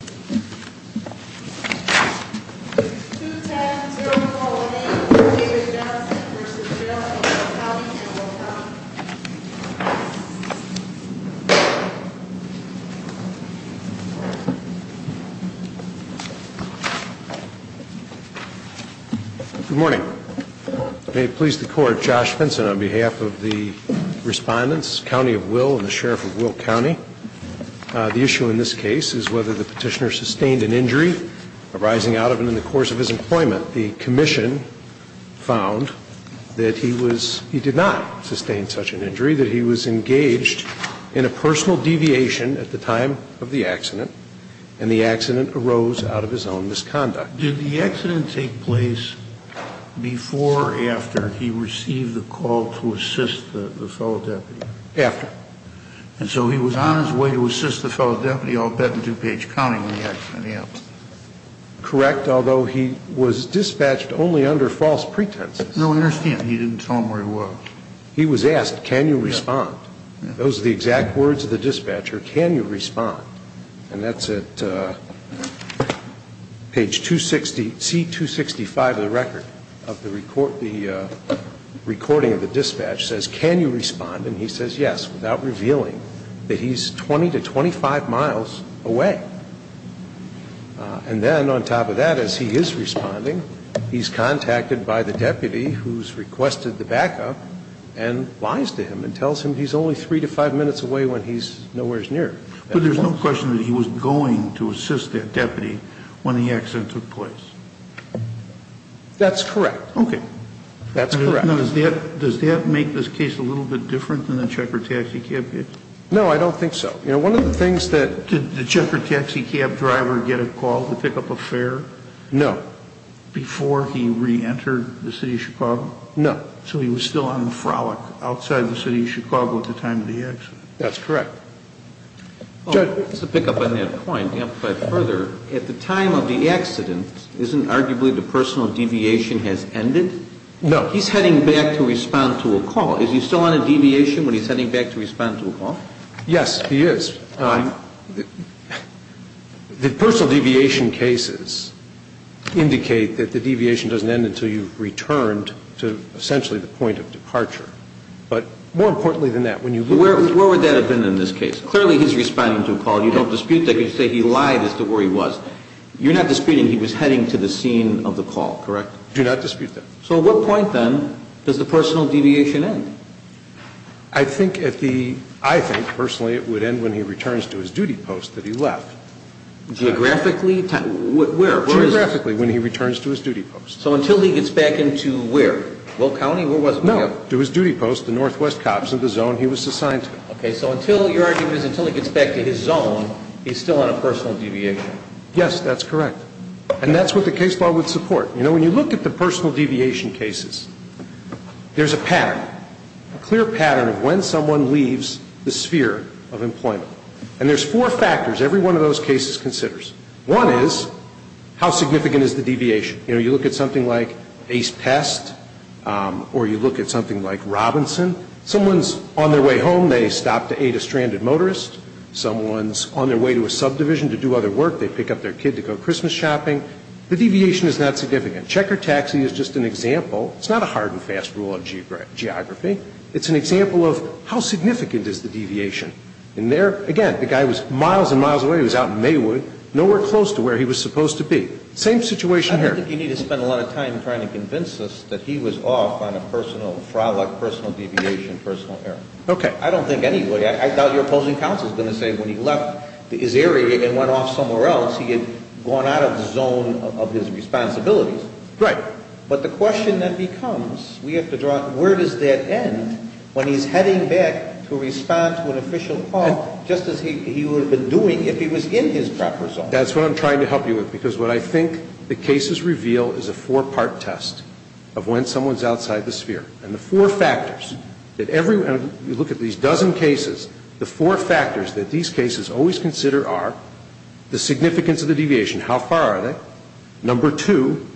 Good morning. May it please the court, Josh Vinson on behalf of the respondents, County of Will and the Sheriff of Will County. The issue in this case is whether the petitioner sustained an injury arising out of and in the course of his employment. The commission found that he was, he did not sustain such an injury, that he was engaged in a personal deviation at the time of the accident and the accident arose out of his own misconduct. Did the accident take place before or after he received a call to assist the fellow deputy? After. And so he was on his way to assist the fellow deputy, I'll bet, in two-page counting in the accident, yes. Correct, although he was dispatched only under false pretenses. No, I understand he didn't tell them where he was. He was asked, can you respond? Those are the exact words of the dispatcher, can you respond? And that's at page 260, the C265 of the record of the recording of the dispatch says, can you respond? And he says, yes, without revealing that he's 20 to 25 miles away. And then on top of that, as he is responding, he's contacted by the deputy who's requested the backup and lies to him and tells him he's only three to five minutes away when he's nowhere as near. But there's no question that he was going to assist that deputy when the accident took place. That's correct. Okay. That's correct. Now, does that make this case a little bit different than the checkered taxi cab case? No, I don't think so. You know, one of the things that... Did the checkered taxi cab driver get a call to pick up a fare? No. Before he re-entered the city of Chicago? No. So he was still on the frolic outside the city of Chicago at the time of the accident. That's correct. Judge? Just to pick up on that point and amplify it further, at the time of the accident, isn't arguably the personal deviation has ended? No. He's heading back to respond to a call. Is he still on a deviation when he's heading back to respond to a call? Yes, he is. The personal deviation cases indicate that the deviation doesn't end until you've returned to essentially the point of departure. But more importantly than that, Where would that have been in this case? Clearly he's responding to a call. You don't dispute that. You say he lied as to where he was. You're not disputing he was heading to the scene of the call, correct? Do not dispute that. So at what point, then, does the personal deviation end? I think at the... I think, personally, it would end when he returns to his duty post that he left. Geographically? Where? Geographically, when he returns to his duty post. So until he gets back into where? Will County? No, to his duty post, the Northwest Cops, in the zone he was assigned to. Okay, so until your argument is until he gets back to his zone, he's still on a personal deviation. Yes, that's correct. And that's what the case law would support. You know, when you look at the personal deviation cases, there's a pattern, a clear pattern of when someone leaves the sphere of employment. And there's four factors every one of those cases considers. One is, how significant is the deviation? You know, you look at something like Ace Pest, or you look at something like Robinson. Someone's on their way home, they stop to aid a stranded motorist. Someone's on their way to a subdivision to do other work, they pick up their kid to go Christmas shopping. The deviation is not significant. Checker Taxi is just an example. It's not a hard and fast rule of geography. It's an example of, how significant is the deviation? And there, again, the guy was miles and miles away. He was out in Maywood, nowhere close to where he was supposed to be. Same situation here. I don't think you need to spend a lot of time trying to convince us that he was off on a personal frolic, personal deviation, personal error. Okay. I don't think any way. I doubt your opposing counsel is going to say when he left his area and went off somewhere else, he had gone out of the zone of his responsibilities. Right. But the question then becomes, we have to draw, where does that end when he's heading back to respond to an official call, just as he would have been doing if he was in his proper zone? That's what I'm trying to help you with, because what I think the cases reveal is a four-part test of when someone's outside the sphere. And the four factors that every one, you look at these dozen cases, the four factors that these cases always consider are the significance of the deviation, how far are they? Number two,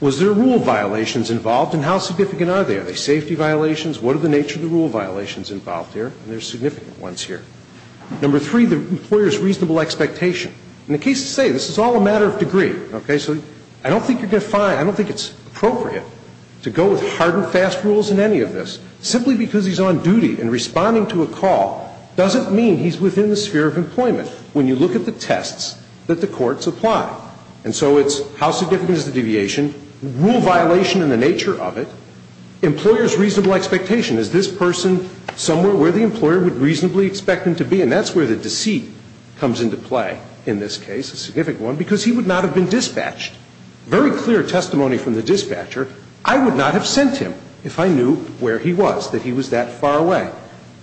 was there rule violations involved and how significant are they? Are they safety violations? What are the nature of the rule violations involved here? And there's significant ones here. Number three, the employer's reasonable expectation. In a case to say, this is all a matter of degree, okay, so I don't think you're going to find, I don't think it's appropriate to go with hard and fast rules in any of this. Simply because he's on duty and responding to a call doesn't mean he's within the sphere of employment when you look at the tests that the courts apply. And so it's how significant is the deviation, rule violation and the nature of it, employer's reasonable expectation. Is this person somewhere where the employer would is that he's within the sphere of employment. And that's where the receipt comes into play in this case, a significant one, because he would not have been dispatched. Very clear testimony from the dispatcher, I would not have sent him if I knew where he was, that he was that far away.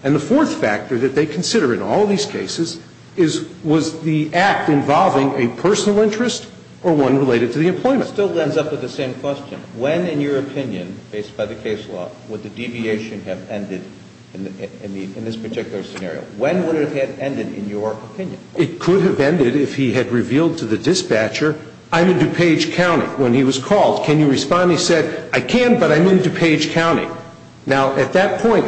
And the fourth factor that they consider in all these cases is, was the act involving a personal interest or one related to the employment? It still ends up with the same question. When, in your opinion, based by the case law, would the deviation have ended in this particular scenario? When would it have ended in your opinion? It could have ended if he had revealed to the dispatcher, I'm in DuPage County, when he was called. Can you respond? He said, I can, but I'm in DuPage County. Now, at that point,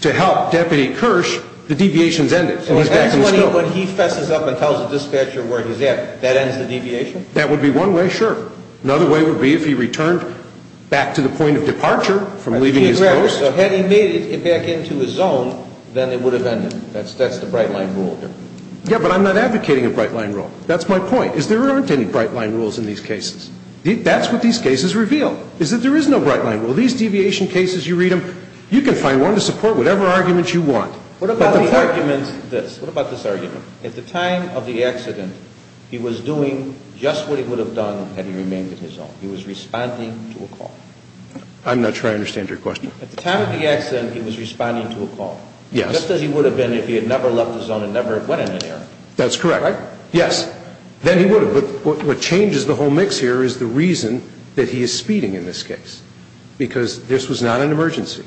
to help Deputy Kirsch, the deviation's ended, and he's back in the scope. So that's when he fesses up and tells the dispatcher where he's at, that ends the deviation? That would be one way, sure. Another way would be if he returned back to the point of departure from leaving his post. So had he made it back into his zone, then it would have ended. That's the bright line rule here. Yeah, but I'm not advocating a bright line rule. That's my point, is there aren't any bright line rules in these cases. That's what these cases reveal, is that there is no bright line rule. So what I'm saying is, if you have a variety of different cases, you can find one to support whatever argument you want. What about the argument, this, what about this argument? At the time of the accident, he was doing just what he would have done had he remained in his zone, he was responding to a call. I'm not sure I understand your question. At the time of the accident, he was responding to a call. Yes. Just as he would have been if he had never left his zone and never went in an area. That's correct. Right? Yes. Then he would have. But what changes the whole mix here is the reason that he is speeding in this case, because this was not an emergency.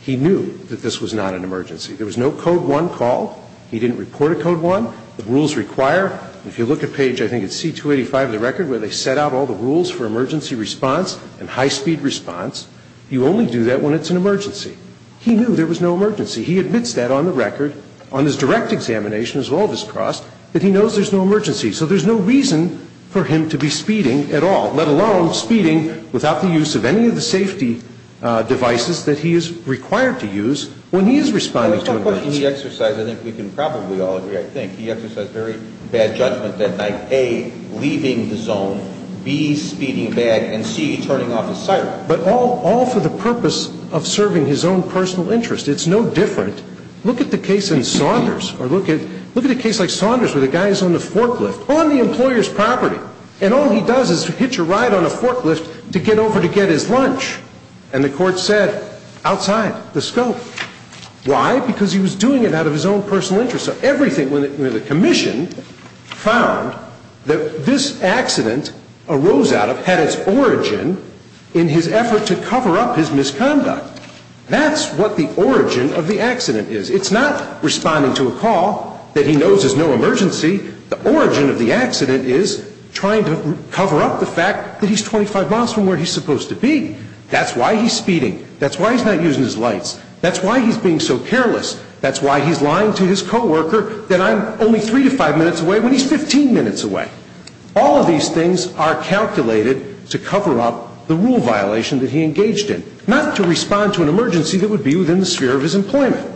He knew that this was not an emergency. There was no Code 1 call. He didn't report a Code 1. The rules require, if you look at page, I think it's C-285 of the record, where they set out all the rules for emergency response and high-speed response. You only do that when it's an emergency. He knew there was no emergency. He admits that on the record, on his direct examination, as well as his cross, that he knows there's no emergency. So there's no reason for him to be speeding at all, let alone speeding without the use of any of the safety devices that he is required to use when he is responding to an emergency. The question he exercised, I think we can probably all agree, I think, he exercised very bad judgment that night, A, leaving the zone, B, speeding bad, and C, turning off the siren. But all for the purpose of serving his own personal interest. It's no different. Look at the case in Saunders, or look at a case like Saunders where the guy is on the forklift, on the employer's property, and all he does is hitch a ride on a forklift to get over to get his lunch. And the court said, outside the scope. Why? Because he was doing it out of his own personal interest. So everything, the commission found that this accident arose out of, had its origin in his effort to cover up his misconduct. That's what the origin of the accident is. It's not responding to a call that he knows is no emergency. The origin of the accident is trying to cover up the fact that he's 25 miles from where he's supposed to be. That's why he's speeding. That's why he's not using his lights. That's why he's being so careless. That's why he's lying to his coworker that I'm only three to five minutes away when he's 15 minutes away. All of these things are calculated to cover up the rule violation that he engaged in, not to respond to an emergency that would be within the sphere of his employment.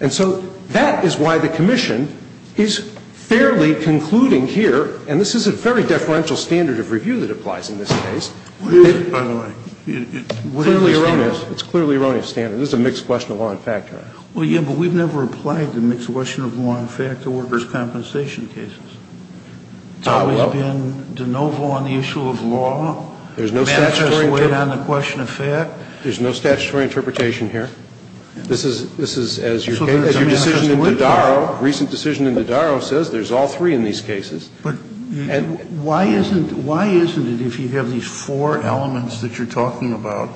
And so that is why the commission is fairly concluding here, and this is a very deferential standard of review that applies in this case. It's clearly erroneous. It's clearly erroneous standard. This is a mixed question of law and fact. Well, yeah, but we've never applied the mixed question of law and fact to workers' compensation cases. It's always been de novo on the issue of law. There's no statutory interpretation. There's no statutory interpretation here. This is, as your case, as your decision in Dodaro, recent decision in Dodaro says, there's all three in these cases. But why isn't it, if you have these four elements that you're talking about,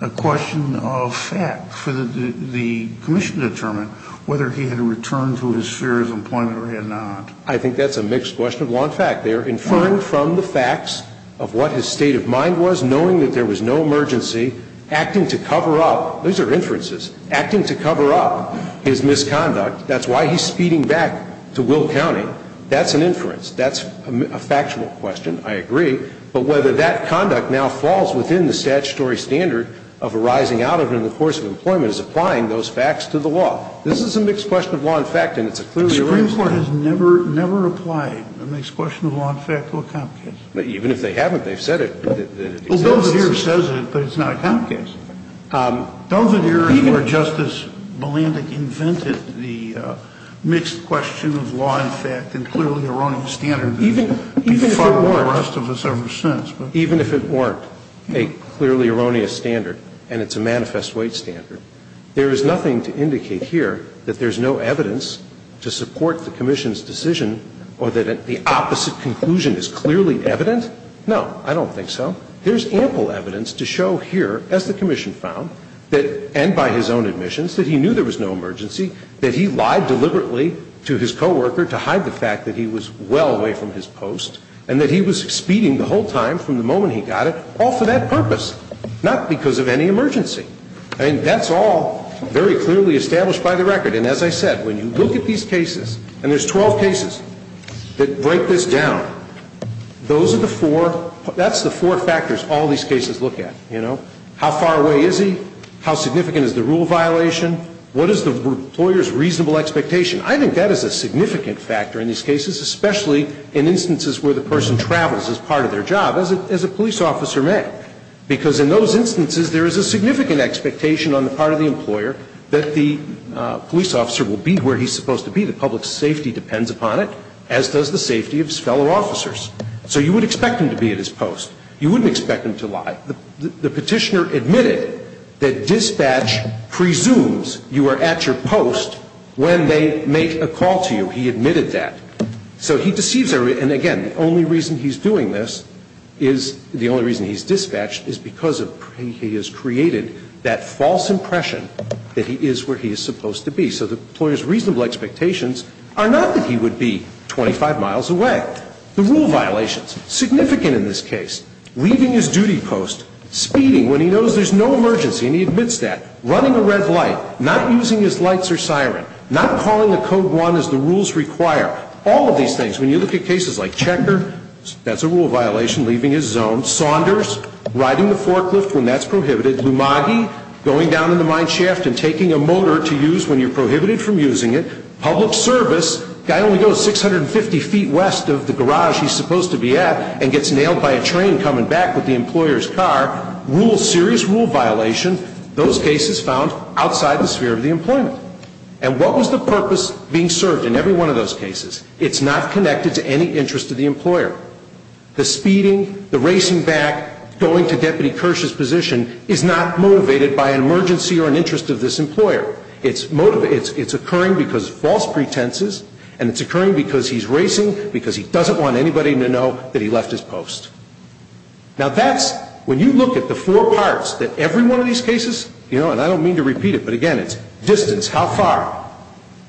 a question of fact for the commission to determine whether he had a return to his sphere of employment or he had not? I think that's a mixed question of law and fact. Sotomayor, I don't think we've ever had a question of law and fact in a comp case. But even if they haven't, they've said it. Well, Dovader says it, but it's not a comp case. Dovader is where Justice Balandic invented the mixed question of law and fact and clearly erroneous standard. Even if it weren't. The rest of us ever since. Even if it weren't a clearly erroneous standard and it's a manifest wage standard, there is nothing to indicate here that there's no evidence to support the commission's decision or that the opposite conclusion is clearly evident? No, I don't think so. There's ample evidence to show here, as the commission found, that, and by his own admissions, that he knew there was no emergency, that he lied deliberately to his coworker to hide the fact that he was well away from his post, and that he was speeding the whole time from the moment he got it, all for that purpose, not because of any emergency. I mean, that's all very clearly established by the record. And as I said, when you look at these cases, and there's 12 cases that break this down, those are the four, that's the four factors all these cases look at. You know? How far away is he? How significant is the rule violation? What is the employer's reasonable expectation? I think that is a significant factor in these cases, especially in instances where the person travels as part of their job, as a police officer may. Because in those instances, there is a significant expectation on the part of the employer that the police officer will be where he's supposed to be. The public's safety depends upon it, as does the safety of his fellow officers. So you would expect him to be at his post. You wouldn't expect him to lie. The Petitioner admitted that dispatch presumes you are at your post when they make a call to you. He admitted that. So he deceives everybody. And again, the only reason he's doing this is, the only reason he's dispatched, is because he has created that false impression that he is where he is supposed to be. So the employer's reasonable expectations are not that he would be 25 miles away. The rule violations, significant in this case. Leaving his duty post, speeding when he knows there's no emergency, and he admits that. Running a red light, not using his lights or siren, not calling the Code 1 as the rules require. All of these things. When you look at cases like Checker, that's a rule violation, leaving his zone. Saunders, riding the forklift when that's prohibited. Lumagi, going down in the mine shaft and taking a motor to use when you're prohibited from using it. Public service, guy only goes 650 feet west of the garage he's supposed to be at and gets nailed by a train coming back with the employer's car. Rule, serious rule violation, those cases found outside the sphere of the employment. And what was the purpose being served in every one of those cases? It's not connected to any interest of the employer. The speeding, the racing back, going to Deputy Kirsch's position is not motivated by an emergency or an interest of this employer. It's occurring because of false pretenses and it's occurring because he's racing because he doesn't want anybody to know that he left his post. Now that's, when you look at the four parts that every one of these cases, you how far?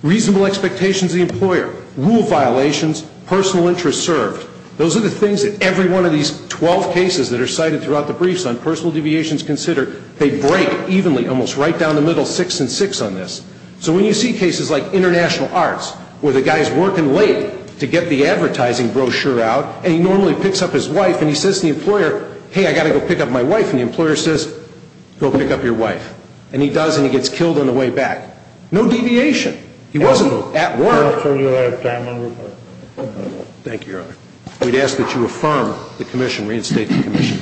Reasonable expectations of the employer, rule violations, personal interest served. Those are the things that every one of these 12 cases that are cited throughout the briefs on personal deviations considered, they break evenly almost right down the middle, six and six on this. So when you see cases like international arts where the guy's working late to get the advertising brochure out and he normally picks up his wife and he says to the employer, hey, I got to go pick up my wife and the employer says, go pick up your wife. And he does and he gets killed on the way back. No deviation. He wasn't at work. Thank you, Your Honor. We'd ask that you affirm the commission, reinstate the commission.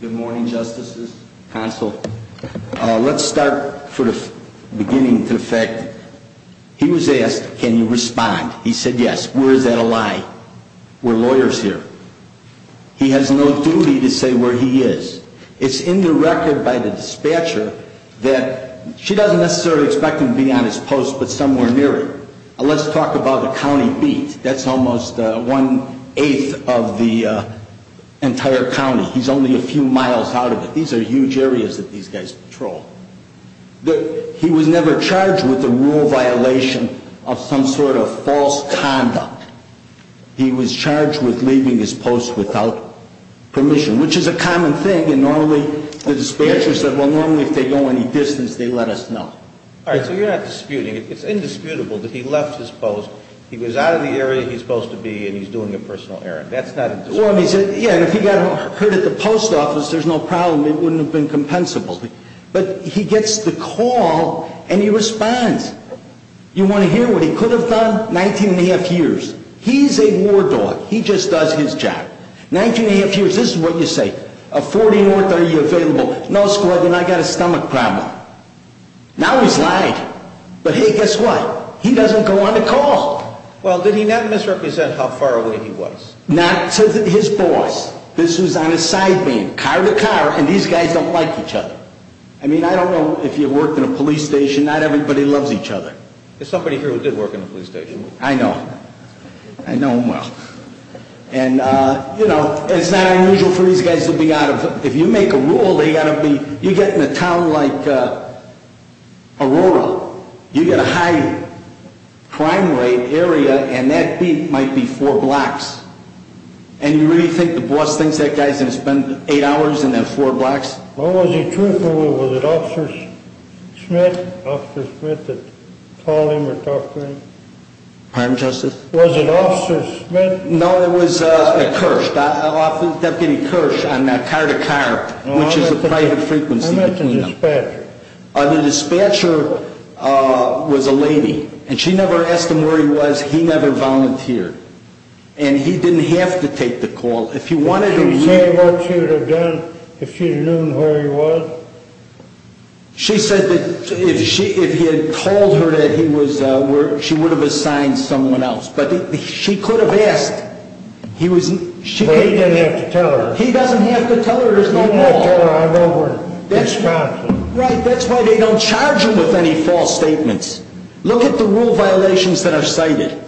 Good morning, Justices, Counsel. Let's start for the beginning to the fact, he was asked, can you respond? He said yes. Where is that a lie? We're lawyers here. He has no duty to say where he is. It's in the record by the dispatcher that she doesn't necessarily expect him to be on his post but somewhere near it. Let's talk about the county beat. That's almost one-eighth of the entire county. He's only a few miles out of it. These are huge areas that these guys patrol. He was never charged with a rule violation of some sort of false conduct. He was charged with leaving his post without permission, which is a common thing, and normally the dispatcher said, well, normally if they go any distance, they let us know. All right. So you're not disputing it. It's indisputable that he left his post. He was out of the area he's supposed to be and he's doing a personal errand. That's not indisputable. Yeah, and if he got hurt at the post office, there's no problem. It wouldn't have been compensable. But he gets the call and he responds. You want to hear what he could have done? Nineteen and a half years. He's a war dog. He just does his job. Nineteen and a half years. This is what you say. A 14 or 30 year available. No squadron. I got a stomach problem. Now he's lied. But hey, guess what? He doesn't go on the call. Well, did he not misrepresent how far away he was? Not to his boys. This was on a side beam, car to car, and these guys don't like each other. I mean, I don't know if you worked in a police station. Not everybody loves each other. There's somebody here who did work in a police station. I know. I know him well. And, you know, it's not unusual for these guys to be out of it. If you make a rule, you get in a town like Aurora, you get a high crime rate area, and that might be four blocks. And you really think the boss thinks that guy's going to spend eight hours in that four blocks? Well, was he truthful? Was it Officer Smith that called him or talked to him? Pardon, Justice? Was it Officer Smith? No, it was Kersh, Deputy Kersh on car to car, which is a private frequency between them. I meant the dispatcher. The dispatcher was a lady, and she never asked him where he was. He never volunteered. And he didn't have to take the call. If he wanted to, he would have. Would she have said what she would have done if she had known where he was? She said that if he had told her that he was, she would have assigned someone else. But she could have asked. But he didn't have to tell her. He doesn't have to tell her. He doesn't have to tell her. I know where he's found him. Right. That's why they don't charge him with any false statements. Look at the rule violations that are cited.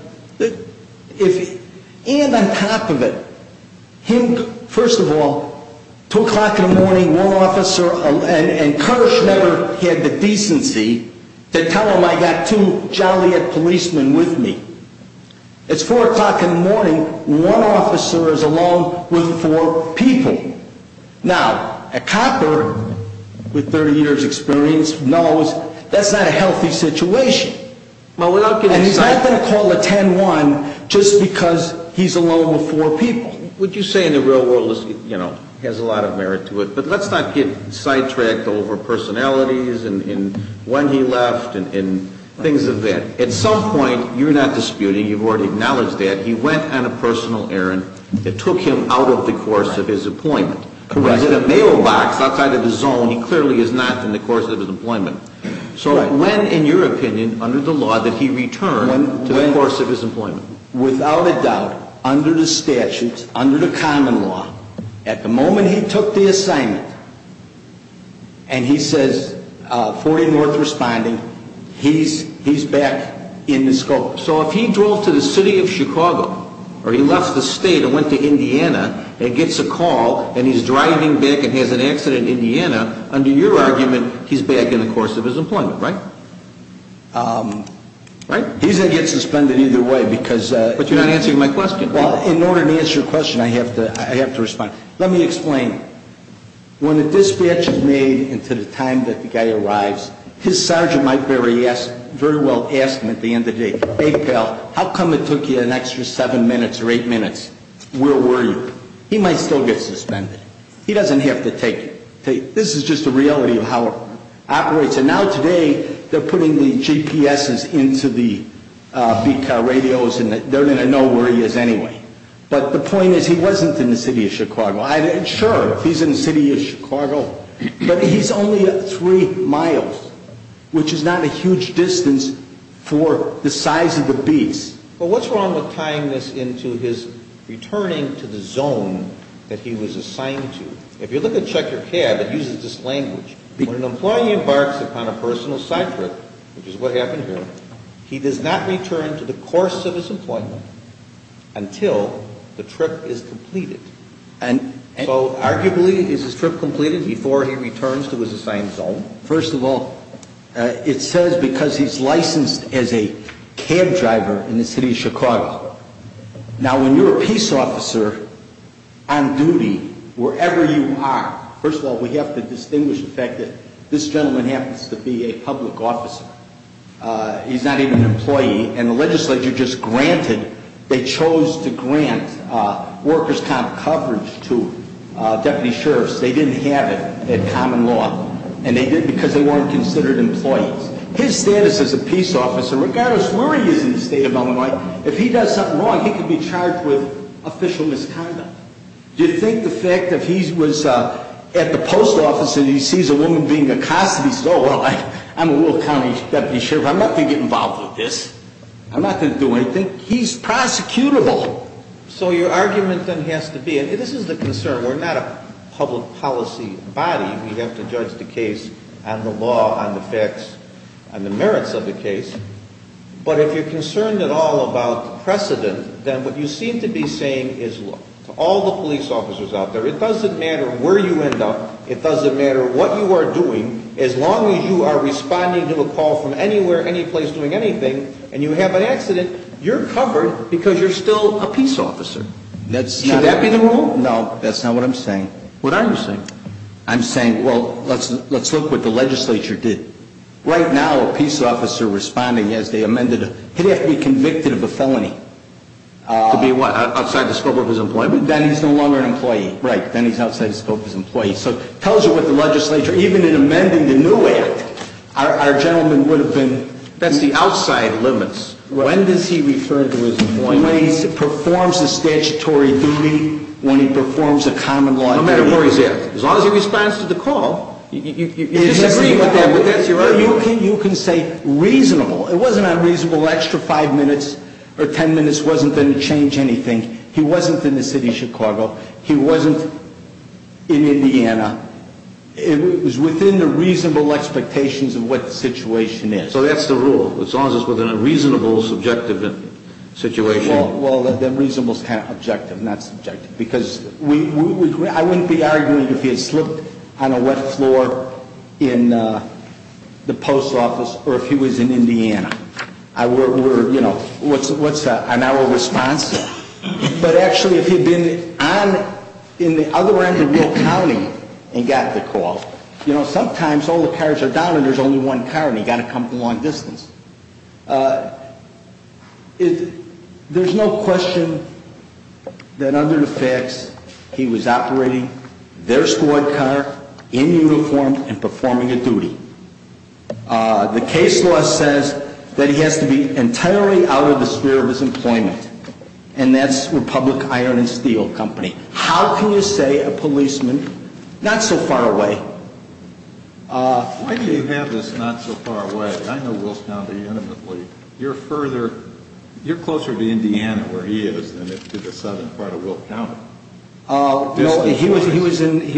And on top of it, him, first of all, 2 o'clock in the morning, one officer, and Kersh never had the decency to tell him I got two Joliet policemen with me. It's 4 o'clock in the morning, one officer is along with four people. Now, a copper with 30 years' experience knows that's not a healthy situation. And he's not going to call a 10-1 just because he's alone with four people. What you say in the real world, you know, has a lot of merit to it. But let's not get sidetracked over personalities and when he left and things of that. At some point, you're not disputing, you've already acknowledged that, he went on a personal errand that took him out of the course of his employment. Correct. He was in a mailbox outside of his zone. He clearly is not in the course of his employment. So when, in your opinion, under the law, did he return to the course of his employment? Without a doubt, under the statutes, under the common law, at the moment he took the assignment and he says, 40 North responding, he's back in the scope. So if he drove to the city of Chicago or he left the state and went to Indiana and gets a call and he's driving back and has an accident in Indiana, under your argument, he's back in the course of his employment, right? He's going to get suspended either way. But you're not answering my question. Well, in order to answer your question, I have to respond. Let me explain. When a dispatch is made and to the time that the guy arrives, his sergeant might very well ask him at the end of the day, hey, pal, how come it took you an extra seven minutes or eight minutes? Where were you? He might still get suspended. He doesn't have to take it. This is just the reality of how it operates. And now today they're putting the GPSs into the beat car radios and they're going to know where he is anyway. But the point is he wasn't in the city of Chicago. Sure, he's in the city of Chicago, but he's only three miles, which is not a huge distance for the size of the beats. But what's wrong with tying this into his returning to the zone that he was assigned to? If you look at Check Your Cab, it uses this language. When an employee embarks upon a personal side trip, which is what happened here, he does not return to the course of his employment until the trip is completed. And so arguably, is his trip completed before he returns to his assigned zone? First of all, it says because he's licensed as a cab driver in the city of Chicago. Now, when you're a peace officer on duty, wherever you are, first of all, we have to distinguish the fact that this gentleman happens to be a public officer. He's not even an employee. And the legislature just granted, they chose to grant workers' comp coverage to deputy sheriffs. They didn't have it in common law, and they did because they weren't considered employees. His status as a peace officer, regardless where he is in the state of Illinois, if he does something wrong, he could be charged with official misconduct. Do you think the fact that he was at the post office and he sees a woman being accosted, he says, oh, well, I'm a rural county deputy sheriff. I'm not going to get involved with this. I'm not going to do anything. He's prosecutable. So your argument then has to be, and this is the concern. We're not a public policy body. We have to judge the case on the law, on the facts, on the merits of the case. But if you're concerned at all about precedent, then what you seem to be saying is, look, to all the police officers out there, it doesn't matter where you end up. It doesn't matter what you are doing. As long as you are responding to a call from anywhere, anyplace, doing anything, and you have an accident, you're covered because you're still a peace officer. Should that be the rule? No. That's not what I'm saying. What are you saying? I'm saying, well, let's look what the legislature did. Right now, a peace officer responding as they amended it, he'd have to be convicted of a felony. To be what? Outside the scope of his employment? Then he's no longer an employee. Right. Then he's outside the scope of his employment. So it tells you what the legislature, even in amending the new act, our gentleman would have been. That's the outside limits. When does he refer to his employment? When he performs a statutory duty, when he performs a common law duty. No matter where he's at. As long as he responds to the call, you disagree with that, but that's your argument. You can say reasonable. It wasn't unreasonable. An extra five minutes or ten minutes wasn't going to change anything. He wasn't in the city of Chicago. He wasn't in Indiana. It was within the reasonable expectations of what the situation is. So that's the rule. As long as it's within a reasonable, subjective situation. Well, then reasonable is kind of objective, not subjective. Because I wouldn't be arguing if he had slipped on a wet floor in the post office or if he was in Indiana. What's an hour response? But actually, if he had been on the other end of Will County and got the call, you know, sometimes all the cars are down and there's only one car and he's got to come from a long distance. There's no question that under the facts he was operating their squad car in uniform and performing a duty. The case law says that he has to be entirely out of the sphere of his employment. And that's Republic Iron and Steel Company. How can you say a policeman not so far away? Why do you have this not so far away? I know Will County intimately. You're further, you're closer to Indiana where he is than to the southern part of Will County. He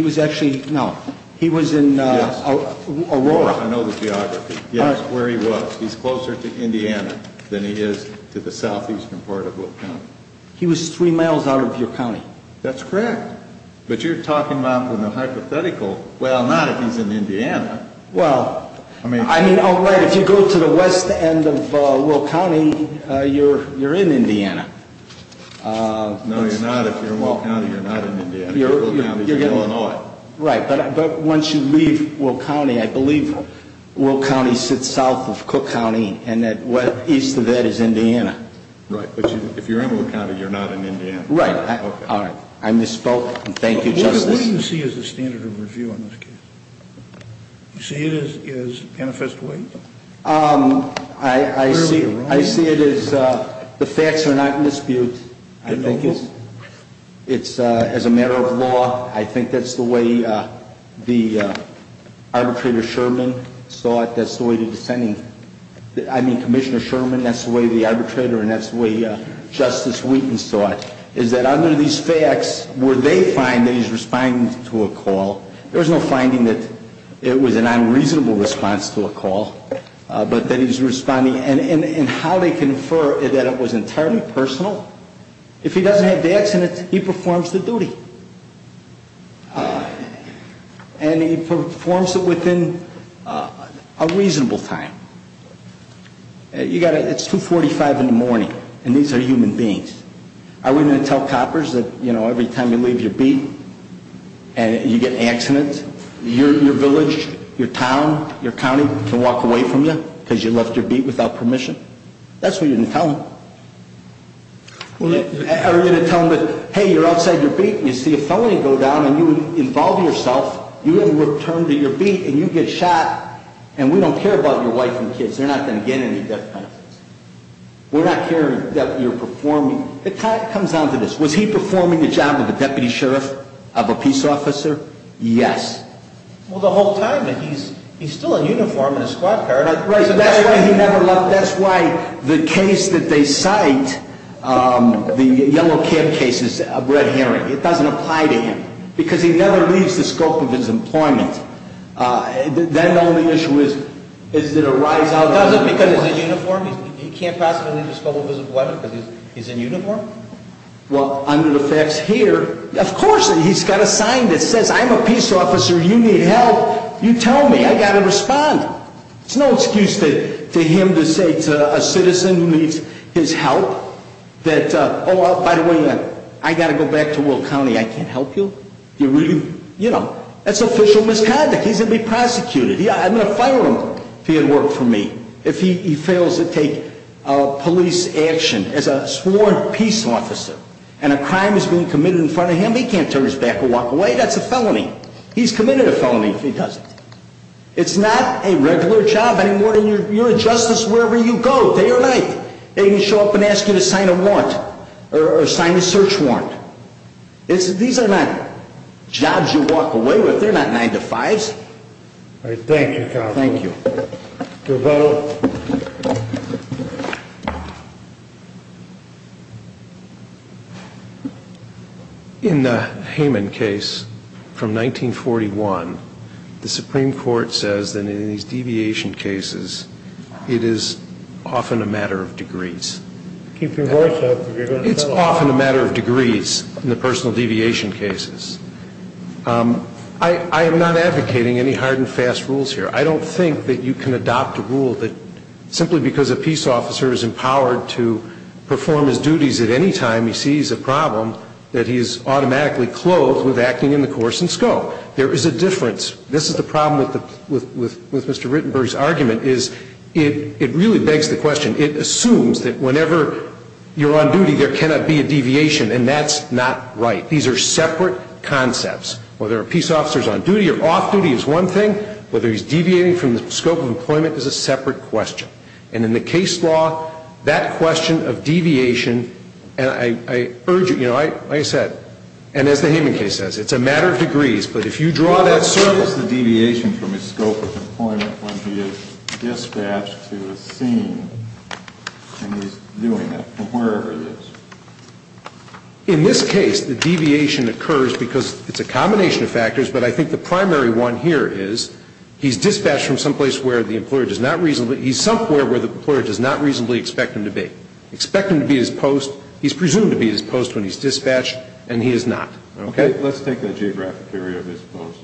was actually, no, he was in Aurora. I know the geography. Yes, where he was. He's closer to Indiana than he is to the southeastern part of Will County. He was three miles out of your county. That's correct. But you're talking about with a hypothetical, well, not if he's in Indiana. Well, I mean, all right, if you go to the west end of Will County, you're in Indiana. No, you're not. If you're in Will County, you're not in Indiana. You're in Illinois. Right. But once you leave Will County, I believe Will County sits south of Cook County and east of that is Indiana. Right. But if you're in Will County, you're not in Indiana. Right. All right. I misspoke. Thank you, Justice. What do you see as the standard of review on this case? You see it as manifest weight? I see it as the facts are not in dispute. I think it's as a matter of law. I think that's the way the arbitrator Sherman saw it. That's the way the dissenting, I mean, Commissioner Sherman, that's the way the arbitrator and that's the way Justice Wheaton saw it, is that under these facts where they find that he's responding to a call, there was no finding that it was an unreasonable response to a call, but that he's responding and how they confer that it was entirely personal. If he doesn't have the accident, he performs the duty. And he performs it within a reasonable time. It's 2.45 in the morning, and these are human beings. Are we going to tell coppers that, you know, every time you leave your beat and you get an accident, your village, your town, your county can walk away from you because you left your beat without permission? That's what you're going to tell them. Are you going to tell them that, hey, you're outside your beat, and you see a felony go down and you involve yourself, you haven't returned to your beat, and you get shot, and we don't care about your wife and kids. They're not going to get any death penalties. We're not caring that you're performing. It kind of comes down to this. Was he performing the job of a deputy sheriff, of a peace officer? Yes. Well, the whole time, he's still in uniform in his squad car. Right, so that's why he never left. That's why the case that they cite, the yellow cab case, is a red herring. It doesn't apply to him because he never leaves the scope of his employment. Then the only issue is, is it a rise out of uniform? Does it because he's in uniform? He can't possibly leave the scope of his employment because he's in uniform? Well, under the facts here, of course he's got a sign that says, I'm a peace officer, you need help, you tell me, I've got to respond. There's no excuse to him to say to a citizen who needs his help that, oh, by the way, I've got to go back to Will County, I can't help you. That's official misconduct. He's going to be prosecuted. I'm going to fire him if he had worked for me. If he fails to take police action as a sworn peace officer and a crime is being committed in front of him, he can't turn his back or walk away. That's a felony. He's committed a felony if he doesn't. It's not a regular job anymore. You're a justice wherever you go, day or night. They can show up and ask you to sign a warrant or sign a search warrant. These are not jobs you walk away with. They're not 9-to-5s. Thank you, counsel. Thank you. In the Heyman case from 1941, the Supreme Court says that in these deviation cases, it is often a matter of degrees. Keep your voice up. It's often a matter of degrees in the personal deviation cases. I am not advocating any hard and fast rules here. I don't think that you can adopt a rule that simply because a peace officer is empowered to perform his duties at any time, he sees a problem that he is automatically clothed with acting in the coercent scope. There is a difference. This is the problem with Mr. Rittenberg's argument is it really begs the question. It assumes that whenever you're on duty, there cannot be a deviation, and that's not right. These are separate concepts. Whether a peace officer is on duty or off duty is one thing. Whether he's deviating from the scope of employment is a separate question. And in the case law, that question of deviation, and I urge you, you know, like I said, and as the Hayman case says, it's a matter of degrees, but if you draw that circle. In this case, the deviation occurs because it's a combination of factors, but I think the primary one here is, he's dispatched from someplace where the employer does not reasonably, he's somewhere where the employer does not reasonably expect him to be. Expect him to be at his post. When he's dispatched, and he is not. Okay? Let's take the geographic area of his post.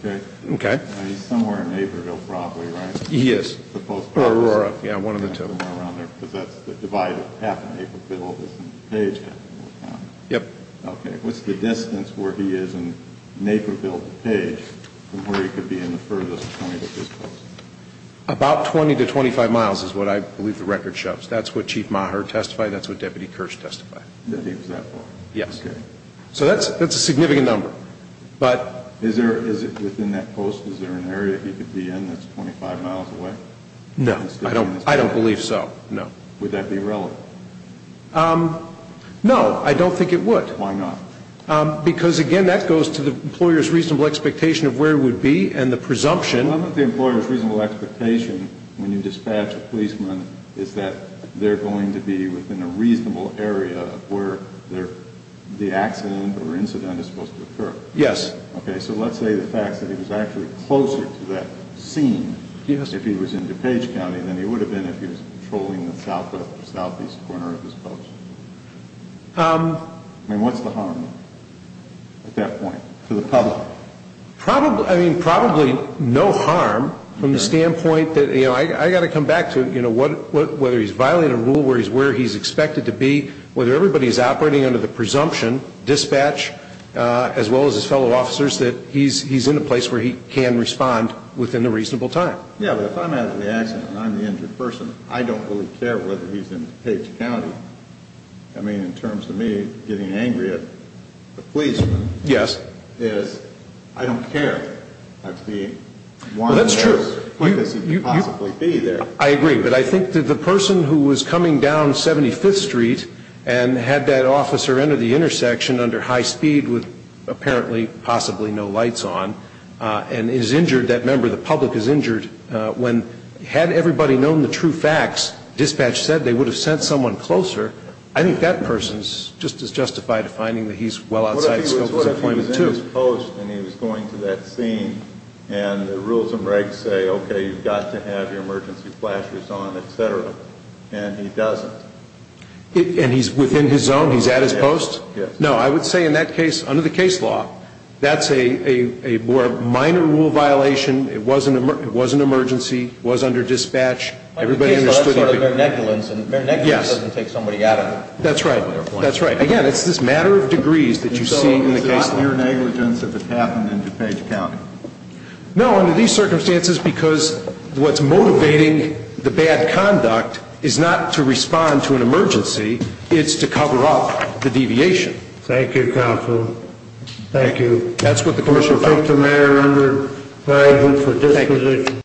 Okay? Okay. He's somewhere in Naperville probably, right? He is. Or Aurora. Yeah, one of the two. Somewhere around there, because that's the divide of half Naperville is in Page. Yep. Okay. What's the distance where he is in Naperville to Page from where he could be in the furthest point of his post? About 20 to 25 miles is what I believe the record shows. That's what Chief Maher testified. That's what Deputy Kirsch testified. That he was that far? Yes. Okay. So that's a significant number. Is it within that post? Is there an area he could be in that's 25 miles away? No. I don't believe so. No. Would that be relevant? No. I don't think it would. Why not? Because, again, that goes to the employer's reasonable expectation of where he would be, and the presumption reasonable expectation when you dispatch a policeman is that they're going to be within a reasonable area of where the accident or incident is supposed to occur. Yes. Okay. So let's say the fact that he was actually closer to that scene if he was in DuPage County than he would have been if he was patrolling the southwest or southeast corner of his post. I mean, what's the harm at that point to the public? I mean, probably no harm from the standpoint that, you know, I've got to come back to, you know, whether he's violating a rule, where he's where he's expected to be, whether everybody's operating under the presumption, dispatch, as well as his fellow officers, that he's in a place where he can respond within a reasonable time. Yeah, but if I'm at the accident and I'm the injured person, I don't really care whether he's in DuPage County. I mean, in terms of me getting angry at the policeman. Yes. I don't care. Well, that's true. How could he possibly be there? I agree. But I think that the person who was coming down 75th Street and had that officer enter the intersection under high speed with apparently possibly no lights on and is injured, that member of the public is injured, when had everybody known the true facts, dispatch said they would have sent someone closer, I think that person's just as justified to finding that he's well outside the scope of his employment, too. What if he was in his post and he was going to that scene and the rules and regs say, okay, you've got to have your emergency flashers on, et cetera, and he doesn't? And he's within his zone? He's at his post? Yes. No, I would say in that case, under the case law, that's a more minor rule violation. It was an emergency. It was under dispatch. Under the case law, it's sort of mere negligence. Yes. And mere negligence doesn't take somebody out of their place. That's right. That's right. Again, it's this matter of degrees that you see in the case law. So it's not mere negligence if it happened in DuPage County? No, under these circumstances, because what's motivating the bad conduct is not to respond to an emergency. It's to cover up the deviation. Thank you, counsel. Thank you. That's what the commissioner thought. Thank you, Mayor. Thank you for this position.